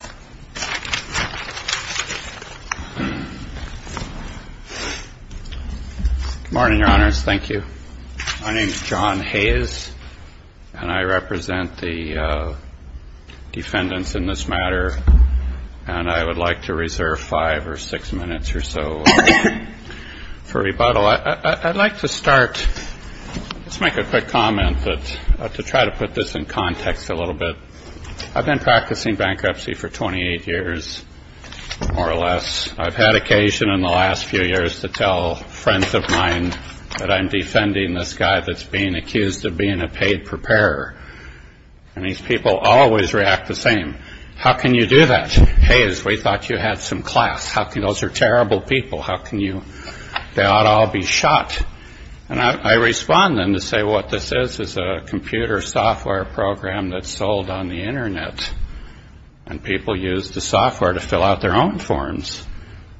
Good morning, your honors. Thank you. My name is John Hayes, and I represent the defendants in this matter, and I would like to reserve five or six minutes or so for rebuttal. I'd like to start, let's make a quick comment, but to try to put this in context a little bit, I've been practicing bankruptcy for 28 years, more or less. I've had occasion in the last few years to tell friends of mine that I'm defending this guy that's being accused of being a paid preparer, and these people always react the same. How can you do that? Hayes, we thought you had some class. Those are terrible people. They ought to all be told on the internet, and people use the software to fill out their own forms.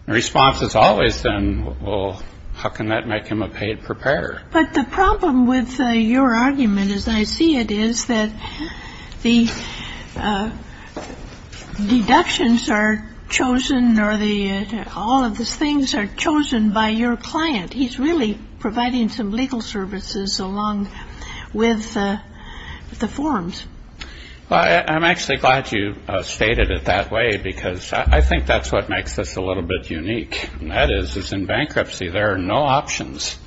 The response is always then, well, how can that make him a paid preparer? But the problem with your argument, as I see it, is that the deductions are chosen, or all of these things are chosen by your client. He's really providing some legal services along with the forms. I'm actually glad you stated it that way, because I think that's what makes this a little bit unique, and that is, is in bankruptcy, there are no options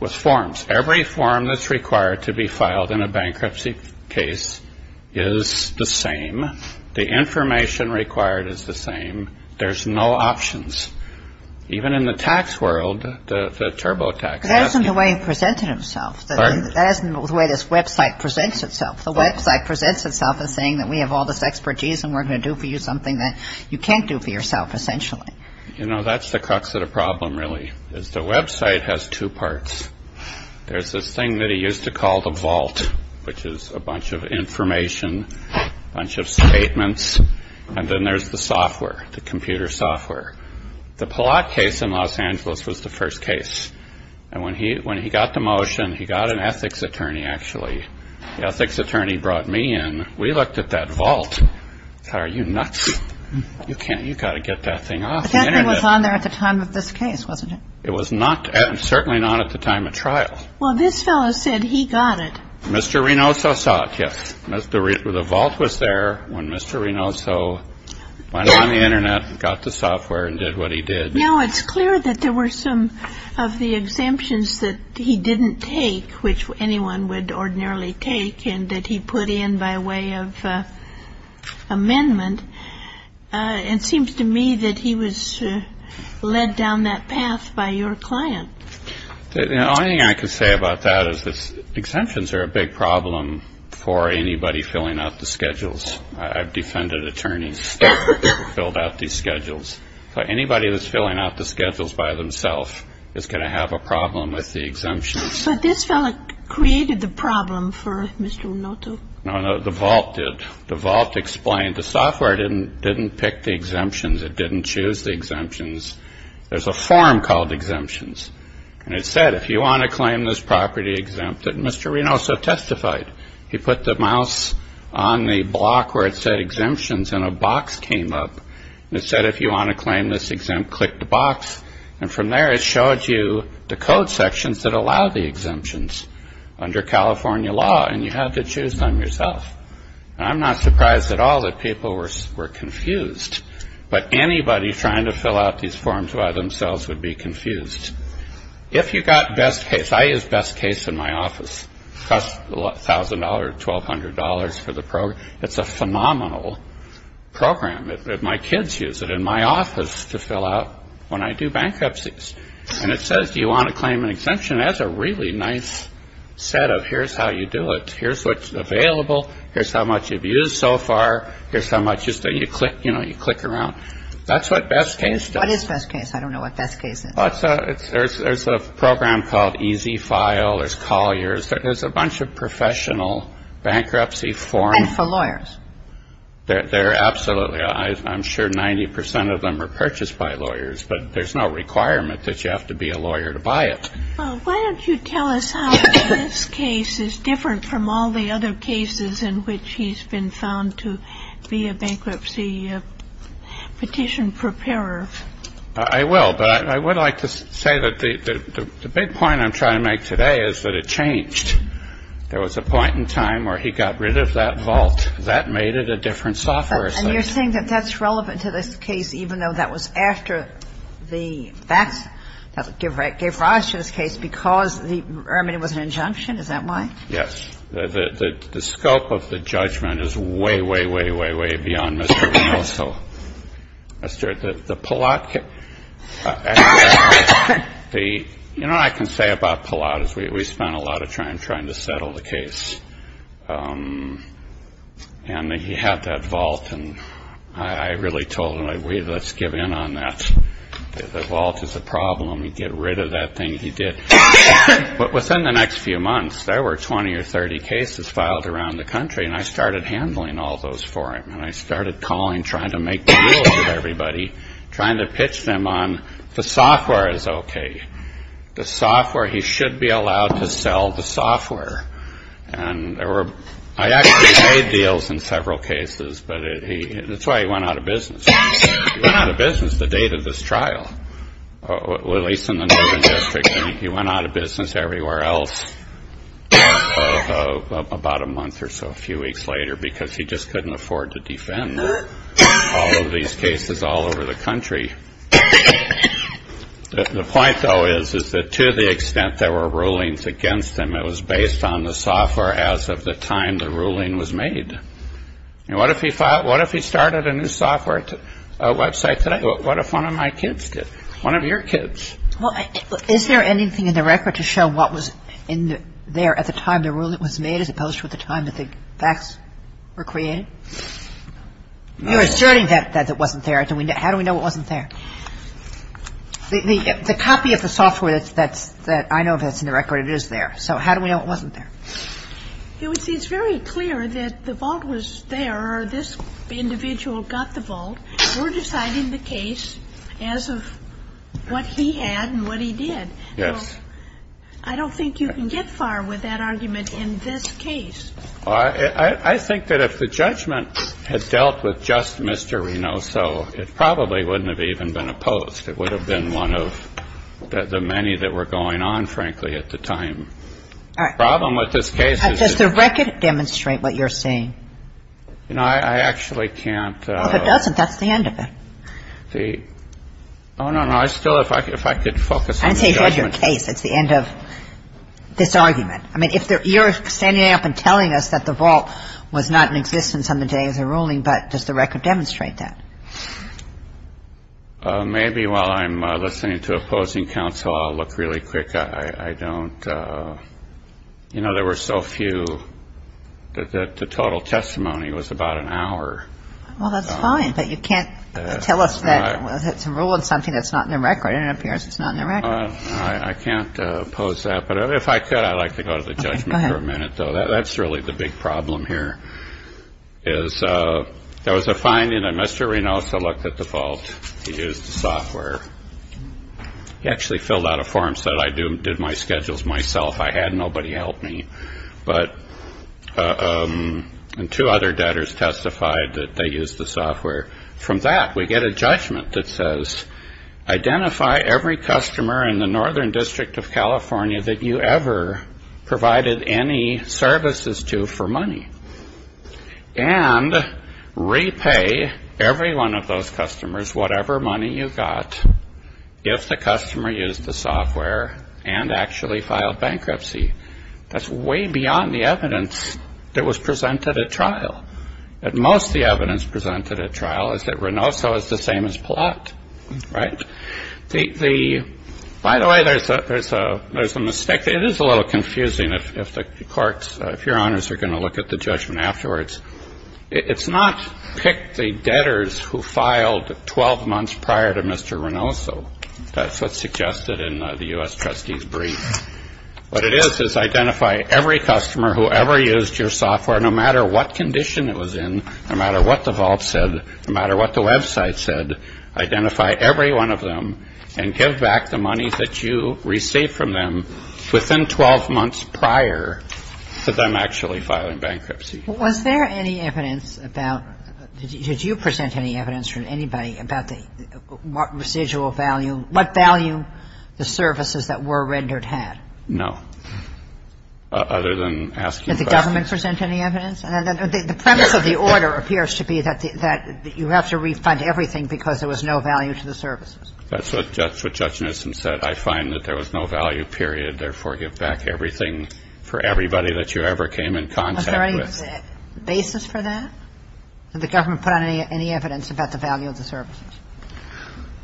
with forms. Every form that's required to be filed in a bankruptcy case is the same. The information required is the same. There's no options. Even in the tax world, the TurboTax... But that isn't the way he presented himself. That isn't the way this website presents itself. The website presents itself as saying that we have all this expertise, and we're going to do for you something that you can't do for yourself, essentially. You know, that's the crux of the problem, really, is the website has two parts. There's this thing that he used to call the vault, which is a bunch of information, a bunch of software, the computer software. The Palak case in Los Angeles was the first case, and when he got the motion, he got an ethics attorney, actually. The ethics attorney brought me in. We looked at that vault. I thought, are you nuts? You've got to get that thing off the Internet. But that thing was on there at the time of this case, wasn't it? It was not, certainly not at the time of trial. Well, this fellow said he got it. Mr. Rinoso saw it, yes. The vault was there when Mr. Rinoso went on the Internet, got the software, and did what he did. Now, it's clear that there were some of the exemptions that he didn't take, which anyone would ordinarily take, and that he put in by way of amendment. It seems to me that he was led down that path by your client. The only thing I can say about that is that exemptions are a big problem for anybody filling out the schedules. I've defended attorneys who filled out these schedules. So anybody that's filling out the schedules by themselves is going to have a problem with the exemptions. But this fellow created the problem for Mr. Rinoso. No, no, the vault did. The vault explained. The software didn't pick the exemptions. It said, if you want to claim this property exempt, that Mr. Rinoso testified. He put the mouse on the block where it said exemptions, and a box came up. It said, if you want to claim this exempt, click the box. And from there, it showed you the code sections that allow the exemptions under California law, and you had to choose them yourself. I'm not surprised at all that people were confused. But anybody trying to fill out these by themselves would be confused. If you got Best Case, I use Best Case in my office. It costs $1,000 or $1,200 for the program. It's a phenomenal program. My kids use it in my office to fill out when I do bankruptcies. And it says, do you want to claim an exemption? That's a really nice set of here's how you do it. Here's what's available. Here's how much you've used so far. Here's how much, you know, you click around. That's what Best Case does. What is Best Case? I don't know what Best Case is. There's a program called E-Z-File. There's Collier's. There's a bunch of professional bankruptcy forms. And for lawyers. Absolutely. I'm sure 90 percent of them are purchased by lawyers, but there's no requirement that you have to be a lawyer to buy it. Well, why don't you tell us how Best Case is different from all the other cases in which he's been found to be a bankruptcy petition preparer? I will. But I would like to say that the big point I'm trying to make today is that it changed. There was a point in time where he got rid of that vault. That made it a different software. And you're saying that that's relevant to this case, even though that was after the facts that gave rise to this case because the remedy was an injunction? Is that why? Yes. The scope of the judgment is way, way, way, way, way beyond Mr. Walsall. You know what I can say about Pallott is we spent a lot of time trying to settle the case. And he had that vault, and I really told him, let's give in on that. The vault is a problem. Let me get rid of that thing he did. But within the next few months, there were 20 or 30 cases filed around the country, and I started handling all those for him. And I started calling, trying to make deals with everybody, trying to pitch them on the software is okay. The software, he should be allowed to sell the software. And I actually made deals in several cases, but that's why he went out of business the date of this trial, at least in the Northern District. He went out of business everywhere else about a month or so, a few weeks later, because he just couldn't afford to defend all of these cases all over the country. The point, though, is that to the extent there were rulings against him, it was based on the software as of the time the ruling was made. And what if he started a new software website today? What if one of my kids did? One of your kids? Well, is there anything in the record to show what was in there at the time the ruling was made, as opposed to at the time that the facts were created? You're asserting that it wasn't there. How do we know it wasn't there? The copy of the software that I know that's in the record, it is there. So how do we know it wasn't there? It's very clear that the vault was there, or this individual got the vault. We're deciding the case as of what he had and what he did. Yes. I don't think you can get far with that argument in this case. I think that if the judgment had dealt with just Mr. Renoso, it probably wouldn't have even been opposed. It would have been one of the many that were going on, frankly, at the time. All right. The problem with this case is... Does the record demonstrate what you're saying? You know, I actually can't... If it doesn't, that's the end of it. Oh, no, no. I still, if I could focus on the judgment... I didn't say it's the end of your case. It's the end of this argument. I mean, you're standing up and telling us that the vault was not in existence on the day of the ruling, but does the record demonstrate that? Maybe while I'm listening to opposing counsel, I'll look really quick. I don't... You know, there were so few that the total testimony was about an hour. Well, that's fine, but you can't tell us that it's a rule and something that's not in the record, and it appears it's not in the record. I can't oppose that, but if I could, I'd like to go to the judgment for a minute, though. Okay, go ahead. That's really the big problem here. There was a finding that Mr. Reynoso looked at the vault. He used the software. He actually filled out a form and said, I did my schedules myself. I had nobody help me. And two other debtors testified that they used the software. From that, we get a judgment that says, identify every customer in the Northern District of California that you ever provided any services to for money, and repay every one of those customers whatever money you got if the customer used the software and actually filed bankruptcy. That's way beyond the evidence that was presented at trial. At most, the evidence presented at trial is that Reynoso is the same as Palat, right? By the way, there's a mistake. It is a little confusing if your honors are going to look at the judgment afterwards. It's not pick the debtors who filed 12 months prior to Mr. Reynoso. That's what's suggested in the U.S. Trustee's brief. What it is is identify every customer who ever used your software, no matter what condition it was in, no matter what the vault said, no matter what the website said, identify every one of them and give back the money that you received from them within 12 months prior to them actually filing bankruptcy. Was there any evidence about, did you present any evidence from anybody about the residual value, what value the services that were rendered had? No. Other than asking about. Did the government present any evidence? The premise of the order appears to be that you have to refund everything because there was no value to the services. That's what Judge Nissen said. I find that there was no value, period, therefore give back everything for everybody that you ever came in contact with. Was there any basis for that? Did the government put on any evidence about the value of the services?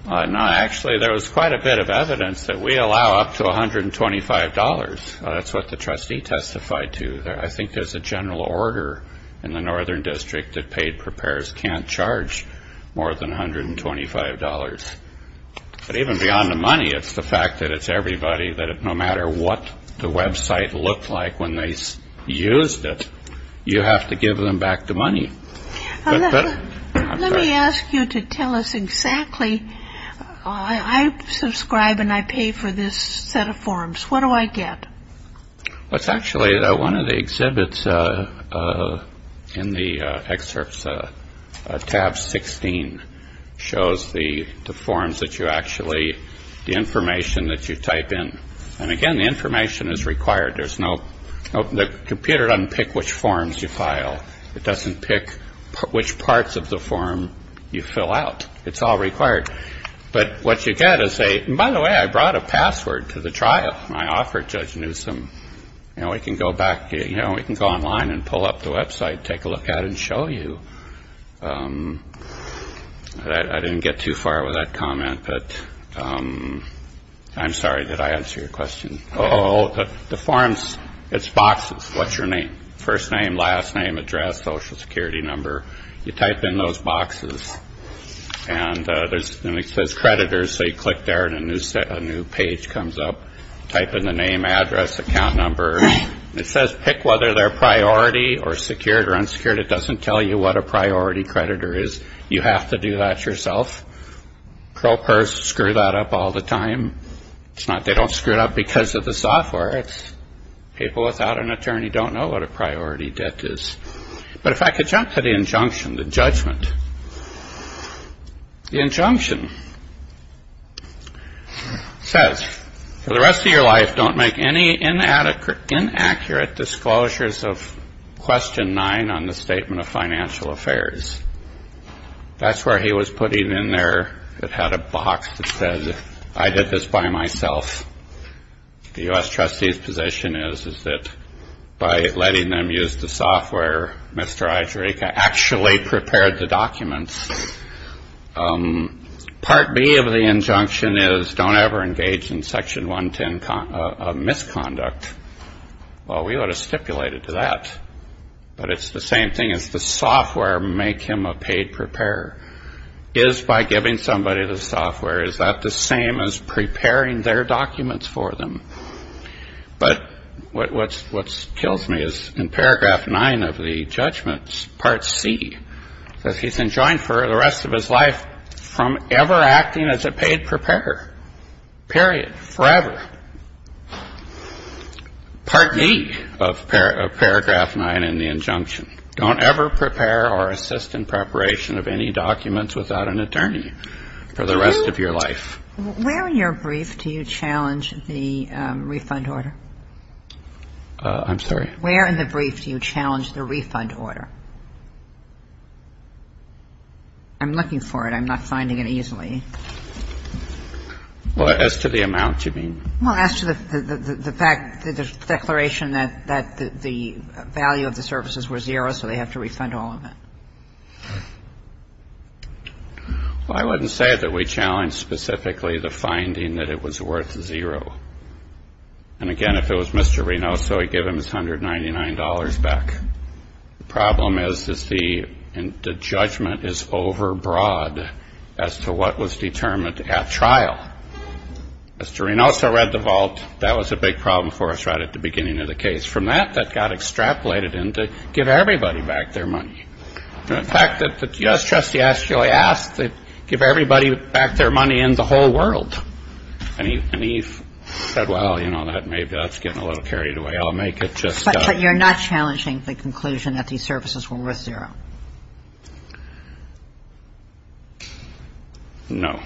No. Actually, there was quite a bit of evidence that we allow up to $125. That's what the trustee testified to. I think there's a general order in the Northern District that paid preparers can't charge more than $125. But even beyond the money, it's the fact that it's everybody, that no matter what the website looked like when they used it, you have to give them back the money. Let me ask you to tell us exactly, I subscribe and I pay for this set of forms. What do I get? Well, it's actually one of the exhibits in the excerpts. Tab 16 shows the forms that you actually, the information that you type in. And again, the information is required. The computer doesn't pick which forms you file. It doesn't pick which parts of the form you fill out. It's all required. But what you get is a, and by the way, I brought a password to the trial. I offered Judge Newsom, you know, we can go online and pull up the website, take a look at it and show you. I didn't get too far with that comment, but I'm sorry, did I answer your question? Oh, the forms, it's boxes. What's your name? First name, last name, address, Social Security number. You type in those boxes. And then it says creditors, so you click there and a new page comes up. Type in the name, address, account number. It says pick whether they're priority or secured or unsecured. It doesn't tell you what a priority creditor is. You have to do that yourself. Propers screw that up all the time. They don't screw it up because of the software. People without an attorney don't know what a priority debt is. But if I could jump to the injunction, the judgment. The injunction says, for the rest of your life, don't make any inaccurate disclosures of question nine on the Statement of Financial Affairs. That's where he was putting in there, it had a box that said, I did this by myself. The U.S. trustee's position is, is that by letting them use the software, Mr. Ajaraika actually prepared the documents. Part B of the injunction is, don't ever engage in Section 110 misconduct. Well, we would have stipulated to that. But it's the same thing as the software, make him a paid preparer. Is by giving somebody the software, is that the same as preparing their documents for them? But what kills me is in paragraph nine of the judgments, part C, that he's enjoined for the rest of his life from ever acting as a paid preparer, period, forever. Part E of paragraph nine in the injunction, don't ever prepare or assist in preparation of any documents without an attorney for the rest of your life. Where in your brief do you challenge the refund order? I'm sorry? Where in the brief do you challenge the refund order? I'm looking for it. I'm not finding it easily. Well, as to the amount, you mean? Well, as to the fact, the declaration that the value of the services were zero, so they have to refund all of it. Well, I wouldn't say that we challenge specifically the finding that it was worth zero. And again, if it was Mr. Renoso, he'd give him his $199 back. The problem is, is the judgment is overbroad as to what was determined at trial. Mr. Renoso read the vault. That was a big problem for us right at the beginning of the case. From that, that got extrapolated into give everybody back their money. The fact that the U.S. trustee actually asked to give everybody back their money in the whole world. And he said, well, you know, maybe that's getting a little carried away. I'll make it just so. But you're not challenging the conclusion that these services were worth zero? No.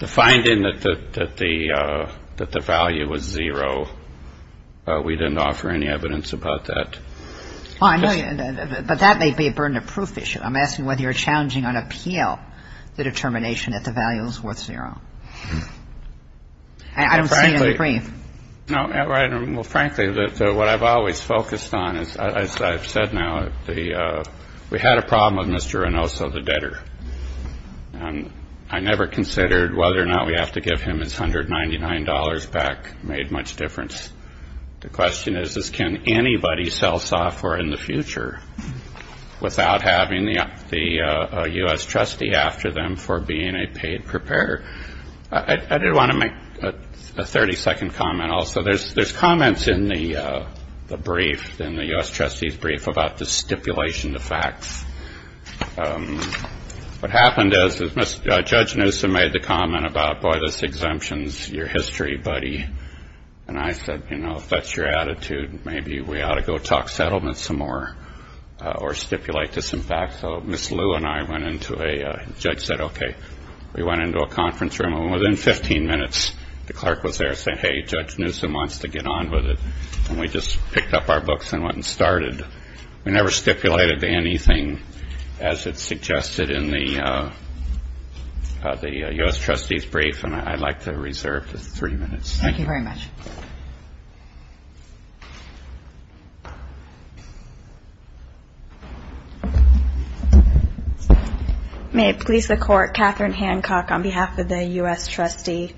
The finding that the value was zero, we didn't offer any evidence about that. But that may be a burden of proof issue. I'm asking whether you're challenging on appeal the determination that the value was worth zero. I don't see it in the brief. Well, frankly, what I've always focused on, as I've said now, we had a problem with Mr. Renoso, the debtor. And I never considered whether or not we have to give him his $199 back made much difference. The question is, can anybody sell software in the future without having the U.S. trustee after them for being a paid preparer? I didn't want to make a 30 second comment. Also, there's there's comments in the brief in the U.S. trustees brief about the stipulation, the facts. What happened is that Judge Newsome made the comment about boy, this exemptions your history, buddy. And I said, you know, if that's your attitude, maybe we ought to go talk settlement some more or stipulate this. In fact, so Miss Lou and I went into a judge said, OK, we went into a conference room within 15 minutes. The clerk was there saying, hey, Judge Newsome wants to get on with it. And we just picked up our books and went and started. We never stipulated anything, as it's suggested in the U.S. trustees brief. And I'd like to reserve three minutes. Thank you very much. May it please the court. Catherine Hancock on behalf of the U.S. trustee.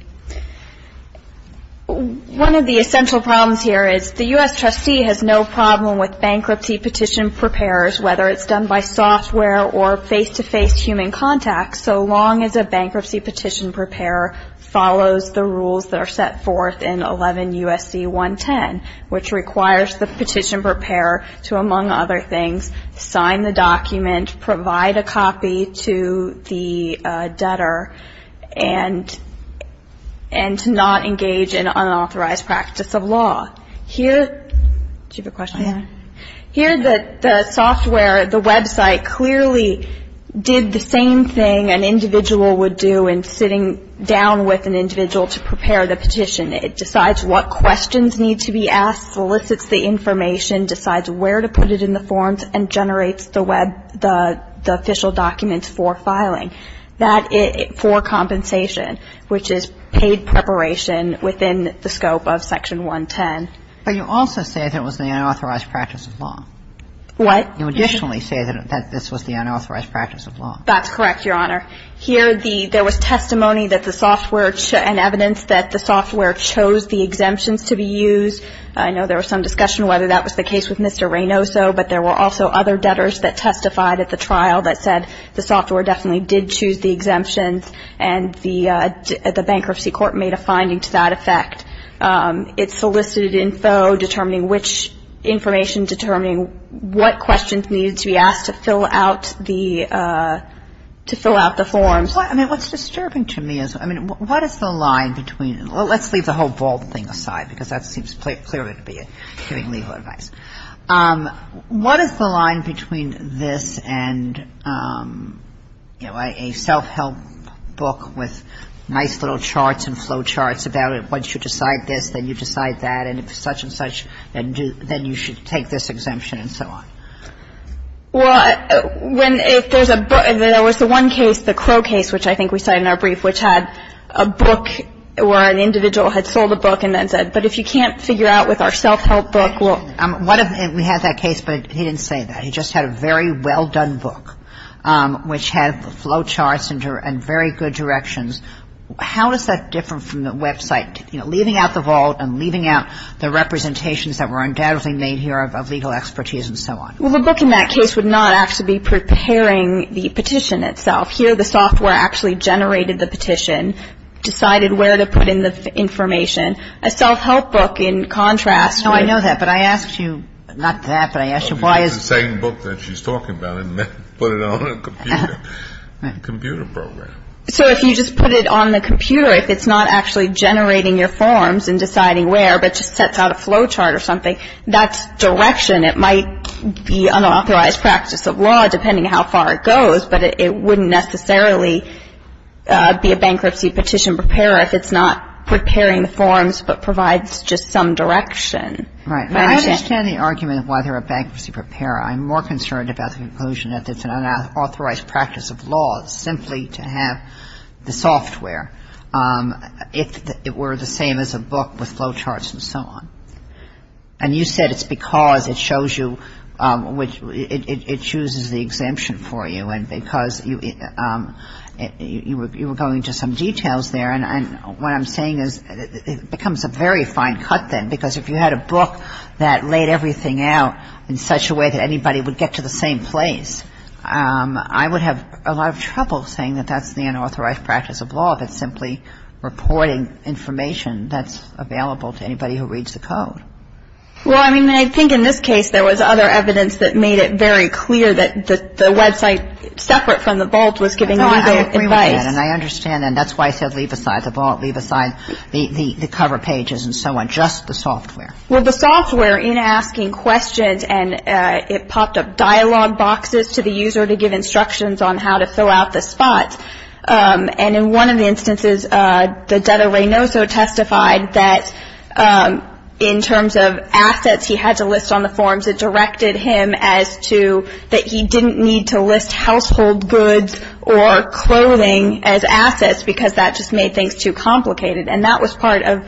One of the essential problems here is the U.S. trustee has no problem with bankruptcy petition preparers, whether it's done by software or face-to-face human contact. So long as a bankruptcy petition preparer follows the rules that are set forth in 11 U.S.C. 110, which requires the petition preparer to, among other things, sign the document, provide a copy to the debtor, and to not engage in unauthorized practice of law. Do you have a question? Here the software, the website, clearly did the same thing an individual would do in sitting down with an individual to prepare the petition. It decides what questions need to be asked, solicits the information, decides where to put it in the forms, and generates the official documents for filing for compensation, which is paid preparation within the scope of Section 110. But you also say that it was the unauthorized practice of law. What? You additionally say that this was the unauthorized practice of law. That's correct, Your Honor. Here there was testimony that the software and evidence that the software chose the exemptions to be used. I know there was some discussion whether that was the case with Mr. Reynoso, but there were also other debtors that testified at the trial that said the software definitely did choose the exemptions and the bankruptcy court made a finding to that effect. It solicited info determining which information, determining what questions needed to be asked to fill out the forms. I mean, what's disturbing to me is, I mean, what is the line between, let's leave the whole vault thing aside because that seems clearly to be giving legal advice. What is the line between this and, you know, a self-help book with nice little charts and flow charts about it, once you decide this, then you decide that, and if such and such, then you should take this exemption and so on? Well, when if there's a book, there was the one case, the Crow case, which I think we cited in our brief, which had a book where an individual had sold a book and then said, but if you can't figure out with our self-help book, we'll... We had that case, but he didn't say that. He just had a very well-done book, which had flow charts and very good directions. How is that different from the website, you know, leaving out the vault and leaving out the representations that were undoubtedly made here of legal expertise and so on? Well, the book in that case would not actually be preparing the petition itself. Here, the software actually generated the petition, decided where to put in the information. A self-help book, in contrast... No, I know that, but I asked you not that, but I asked you why is... It's the same book that she's talking about, and then put it on a computer program. So if you just put it on the computer, if it's not actually generating your forms and deciding where, but just sets out a flow chart or something, that's direction. It might be unauthorized practice of law, depending how far it goes, but it wouldn't necessarily be a bankruptcy petition preparer if it's not preparing the forms but provides just some direction. Right. I understand the argument of why they're a bankruptcy preparer. I'm more concerned about the conclusion that it's an unauthorized practice of law simply to have the software, if it were the same as a book with flow charts and so on. And you said it's because it shows you, it chooses the exemption for you, and because you were going into some details there. And what I'm saying is it becomes a very fine cut then, because if you had a book that laid everything out in such a way that anybody would get to the same place, I would have a lot of trouble saying that that's the unauthorized practice of law, but simply reporting information that's available to anybody who reads the code. Well, I mean, I think in this case, there was other evidence that made it very clear that the website separate from the vault was giving legal advice. No, I agree with that, and I understand, and that's why I said leave aside the vault, leave aside the cover pages and so on, just the software. Well, the software, in asking questions, and it popped up dialogue boxes to the user to give instructions on how to fill out the spots. And in one of the instances, the debtor Reynoso testified that in terms of assets he had to list on the forms, it directed him as to that he didn't need to list household goods or clothing as assets, because that just made things too complicated. And that was part of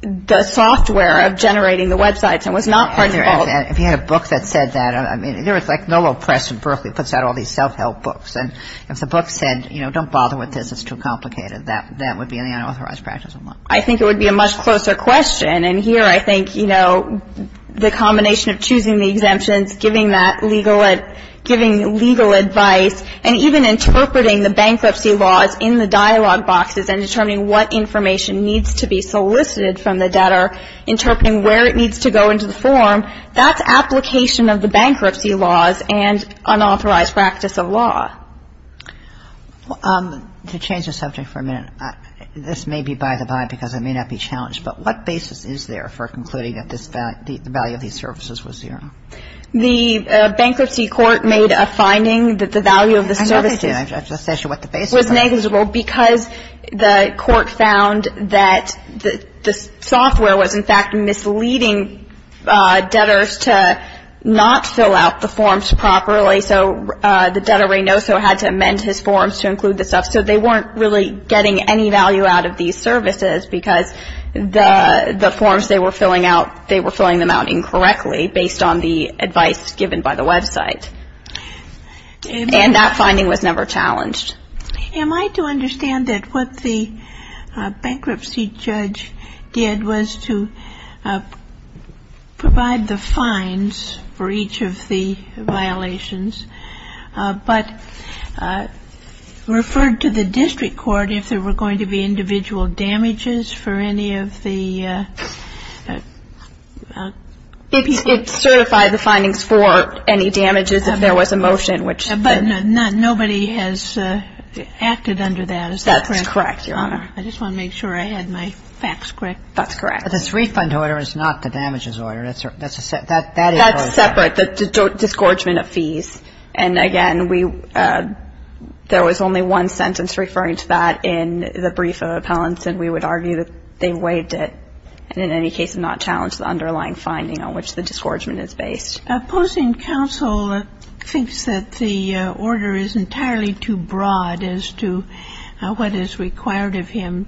the software of generating the websites and was not part of the vault. If you had a book that said that, I mean, there was like Novo Press in Berkeley puts out all these self-help books. And if the book said, you know, don't bother with this, it's too complicated, that would be an unauthorized practice of law. I think it would be a much closer question. And here, I think, you know, the combination of choosing the exemptions, giving legal advice, and even interpreting the bankruptcy laws in the dialogue boxes and determining what information needs to be solicited from the debtor, interpreting where it needs to go into the form, that's application of the bankruptcy laws and unauthorized practice of law. To change the subject for a minute, this may be by the by because it may not be challenged, but what basis is there for concluding that the value of these services was zero? The bankruptcy court made a finding that the value of the services was negligible because the court found that the software was, in fact, misleading debtors to not fill out the forms properly. So the debtor Reynoso had to amend his forms to include the stuff. So they weren't really getting any value out of these services because the forms they were filling out, they were filling them out incorrectly based on the advice given by the website. And that finding was never challenged. Am I to understand that what the bankruptcy judge did was to provide the fines for each of the violations but referred to the district court if there were going to be individual damages for any of the people? It certified the findings for any damages if there was a motion. But nobody has acted under that, is that correct? That's correct, Your Honor. I just want to make sure I had my facts correct. That's correct. But this refund order is not the damages order. That's separate, the disgorgement of fees. And, again, there was only one sentence referring to that in the brief of appellants, and we would argue that they waived it and, in any case, not challenged the underlying finding on which the disgorgement is based. The opposing counsel thinks that the order is entirely too broad as to what is required of him.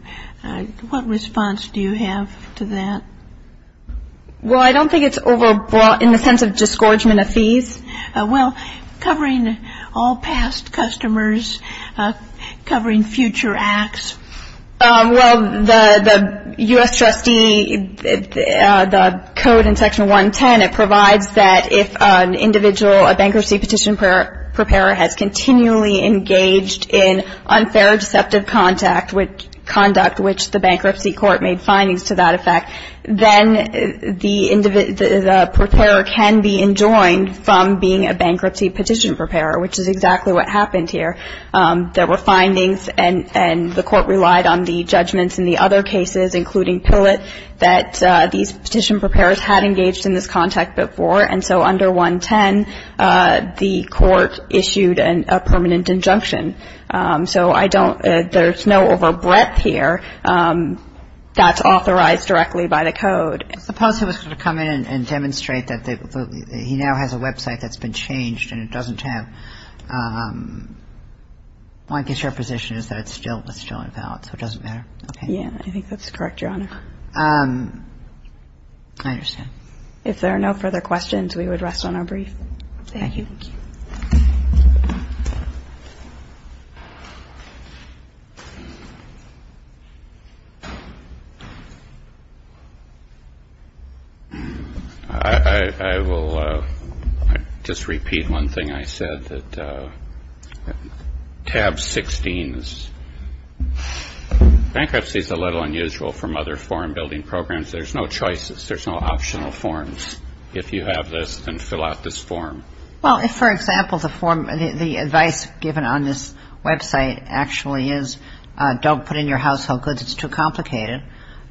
What response do you have to that? Well, I don't think it's overbroad in the sense of disgorgement of fees. Well, covering all past customers, covering future acts. Well, the U.S. trustee, the code in Section 110, it provides that if an individual, a bankruptcy petition preparer, has continually engaged in unfair or deceptive conduct, which the bankruptcy court made findings to that effect, then the preparer can be enjoined from being a bankruptcy petition preparer, which is exactly what happened here. There were findings, and the court relied on the judgments in the other cases, including Pillett, that these petition preparers had engaged in this contact before, and so under 110, the court issued a permanent injunction. So I don't – there's no overbreadth here that's authorized directly by the code. Suppose he was going to come in and demonstrate that he now has a website that's been changed and it doesn't have – well, I guess your position is that it's still in valid, so it doesn't matter. Yeah, I think that's correct, Your Honor. I understand. If there are no further questions, we would rest on our brief. Thank you. Thank you. Thank you. I will just repeat one thing I said, that tab 16 is – bankruptcy is a little unusual from other form-building programs. There's no choices. There's no optional forms if you have this and fill out this form. Well, if, for example, the advice given on this website actually is don't put in your household goods, it's too complicated,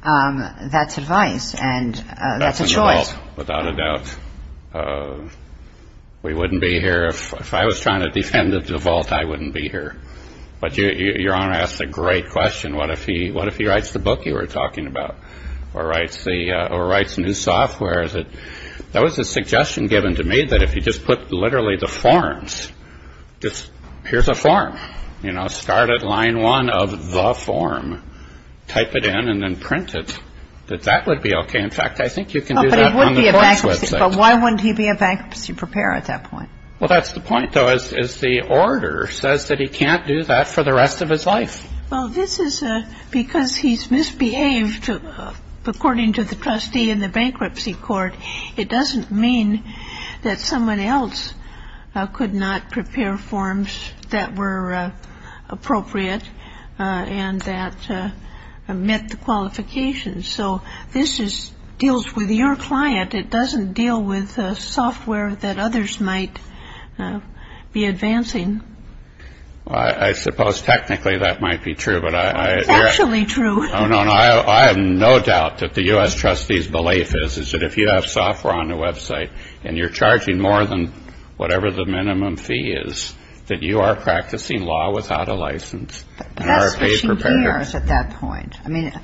that's advice, and that's a choice. That's a default, without a doubt. We wouldn't be here – if I was trying to defend the default, I wouldn't be here. But Your Honor asked a great question. What if he writes the book you were talking about, or writes new software? That was a suggestion given to me, that if you just put literally the forms, just here's a form, you know, start at line one of the form, type it in and then print it, that that would be okay. In fact, I think you can do that on the courts website. But why wouldn't he be a bankruptcy preparer at that point? Well, that's the point, though, is the order says that he can't do that for the rest of his life. Well, this is because he's misbehaved, according to the trustee in the bankruptcy court. It doesn't mean that someone else could not prepare forms that were appropriate and that met the qualifications. So this deals with your client. It doesn't deal with software that others might be advancing. Well, I suppose technically that might be true. It's actually true. Oh, no, no. I have no doubt that the U.S. trustee's belief is that if you have software on your website and you're charging more than whatever the minimum fee is, that you are practicing law without a license. But that's what she hears at that point. I mean,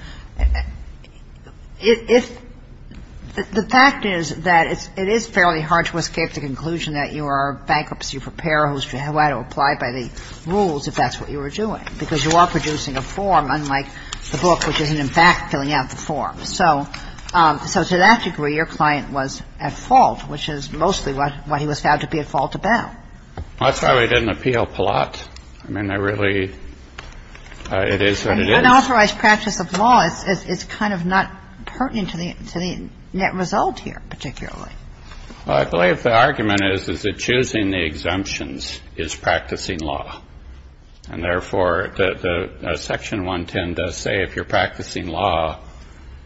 the fact is that it is fairly hard to escape the conclusion that you are a bankruptcy preparer who's allowed to apply by the rules if that's what you were doing, because you are producing a form unlike the book, which isn't, in fact, filling out the form. So to that degree, your client was at fault, which is mostly what he was found to be at fault about. That's why we didn't appeal Palat. I mean, I really – it is what it is. I mean, unauthorized practice of law is kind of not pertinent to the net result here particularly. Well, I believe the argument is that choosing the exemptions is practicing law, and therefore Section 110 does say if you're practicing law,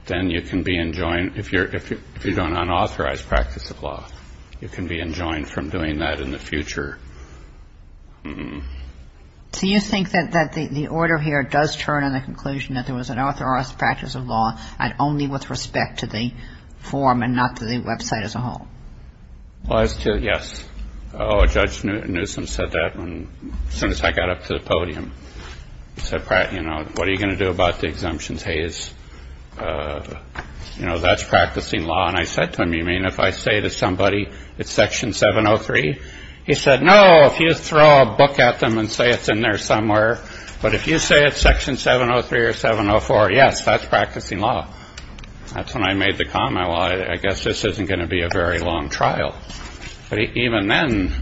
then you can be enjoined – if you're doing unauthorized practice of law, you can be enjoined from doing that in the future. So you think that the order here does turn in the conclusion that there was an unauthorized practice of law and only with respect to the form and not to the website as a whole? Well, as to – yes. Judge Newsom said that as soon as I got up to the podium. He said, you know, what are you going to do about the exemptions? Hey, that's practicing law. And I said to him, you mean if I say to somebody it's Section 703? He said, no, if you throw a book at them and say it's in there somewhere, but if you say it's Section 703 or 704, yes, that's practicing law. That's when I made the comment, well, I guess this isn't going to be a very long trial. But even then,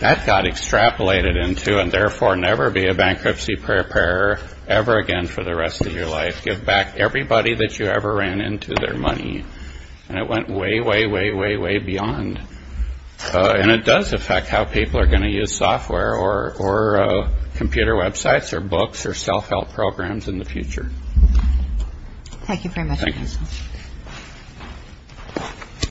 that got extrapolated into, and therefore never be a bankruptcy preparer ever again for the rest of your life. Give back everybody that you ever ran into their money. And it went way, way, way, way, way beyond. And it does affect how people are going to use software or computer websites or books or self-help programs in the future. Thank you very much. Thank you.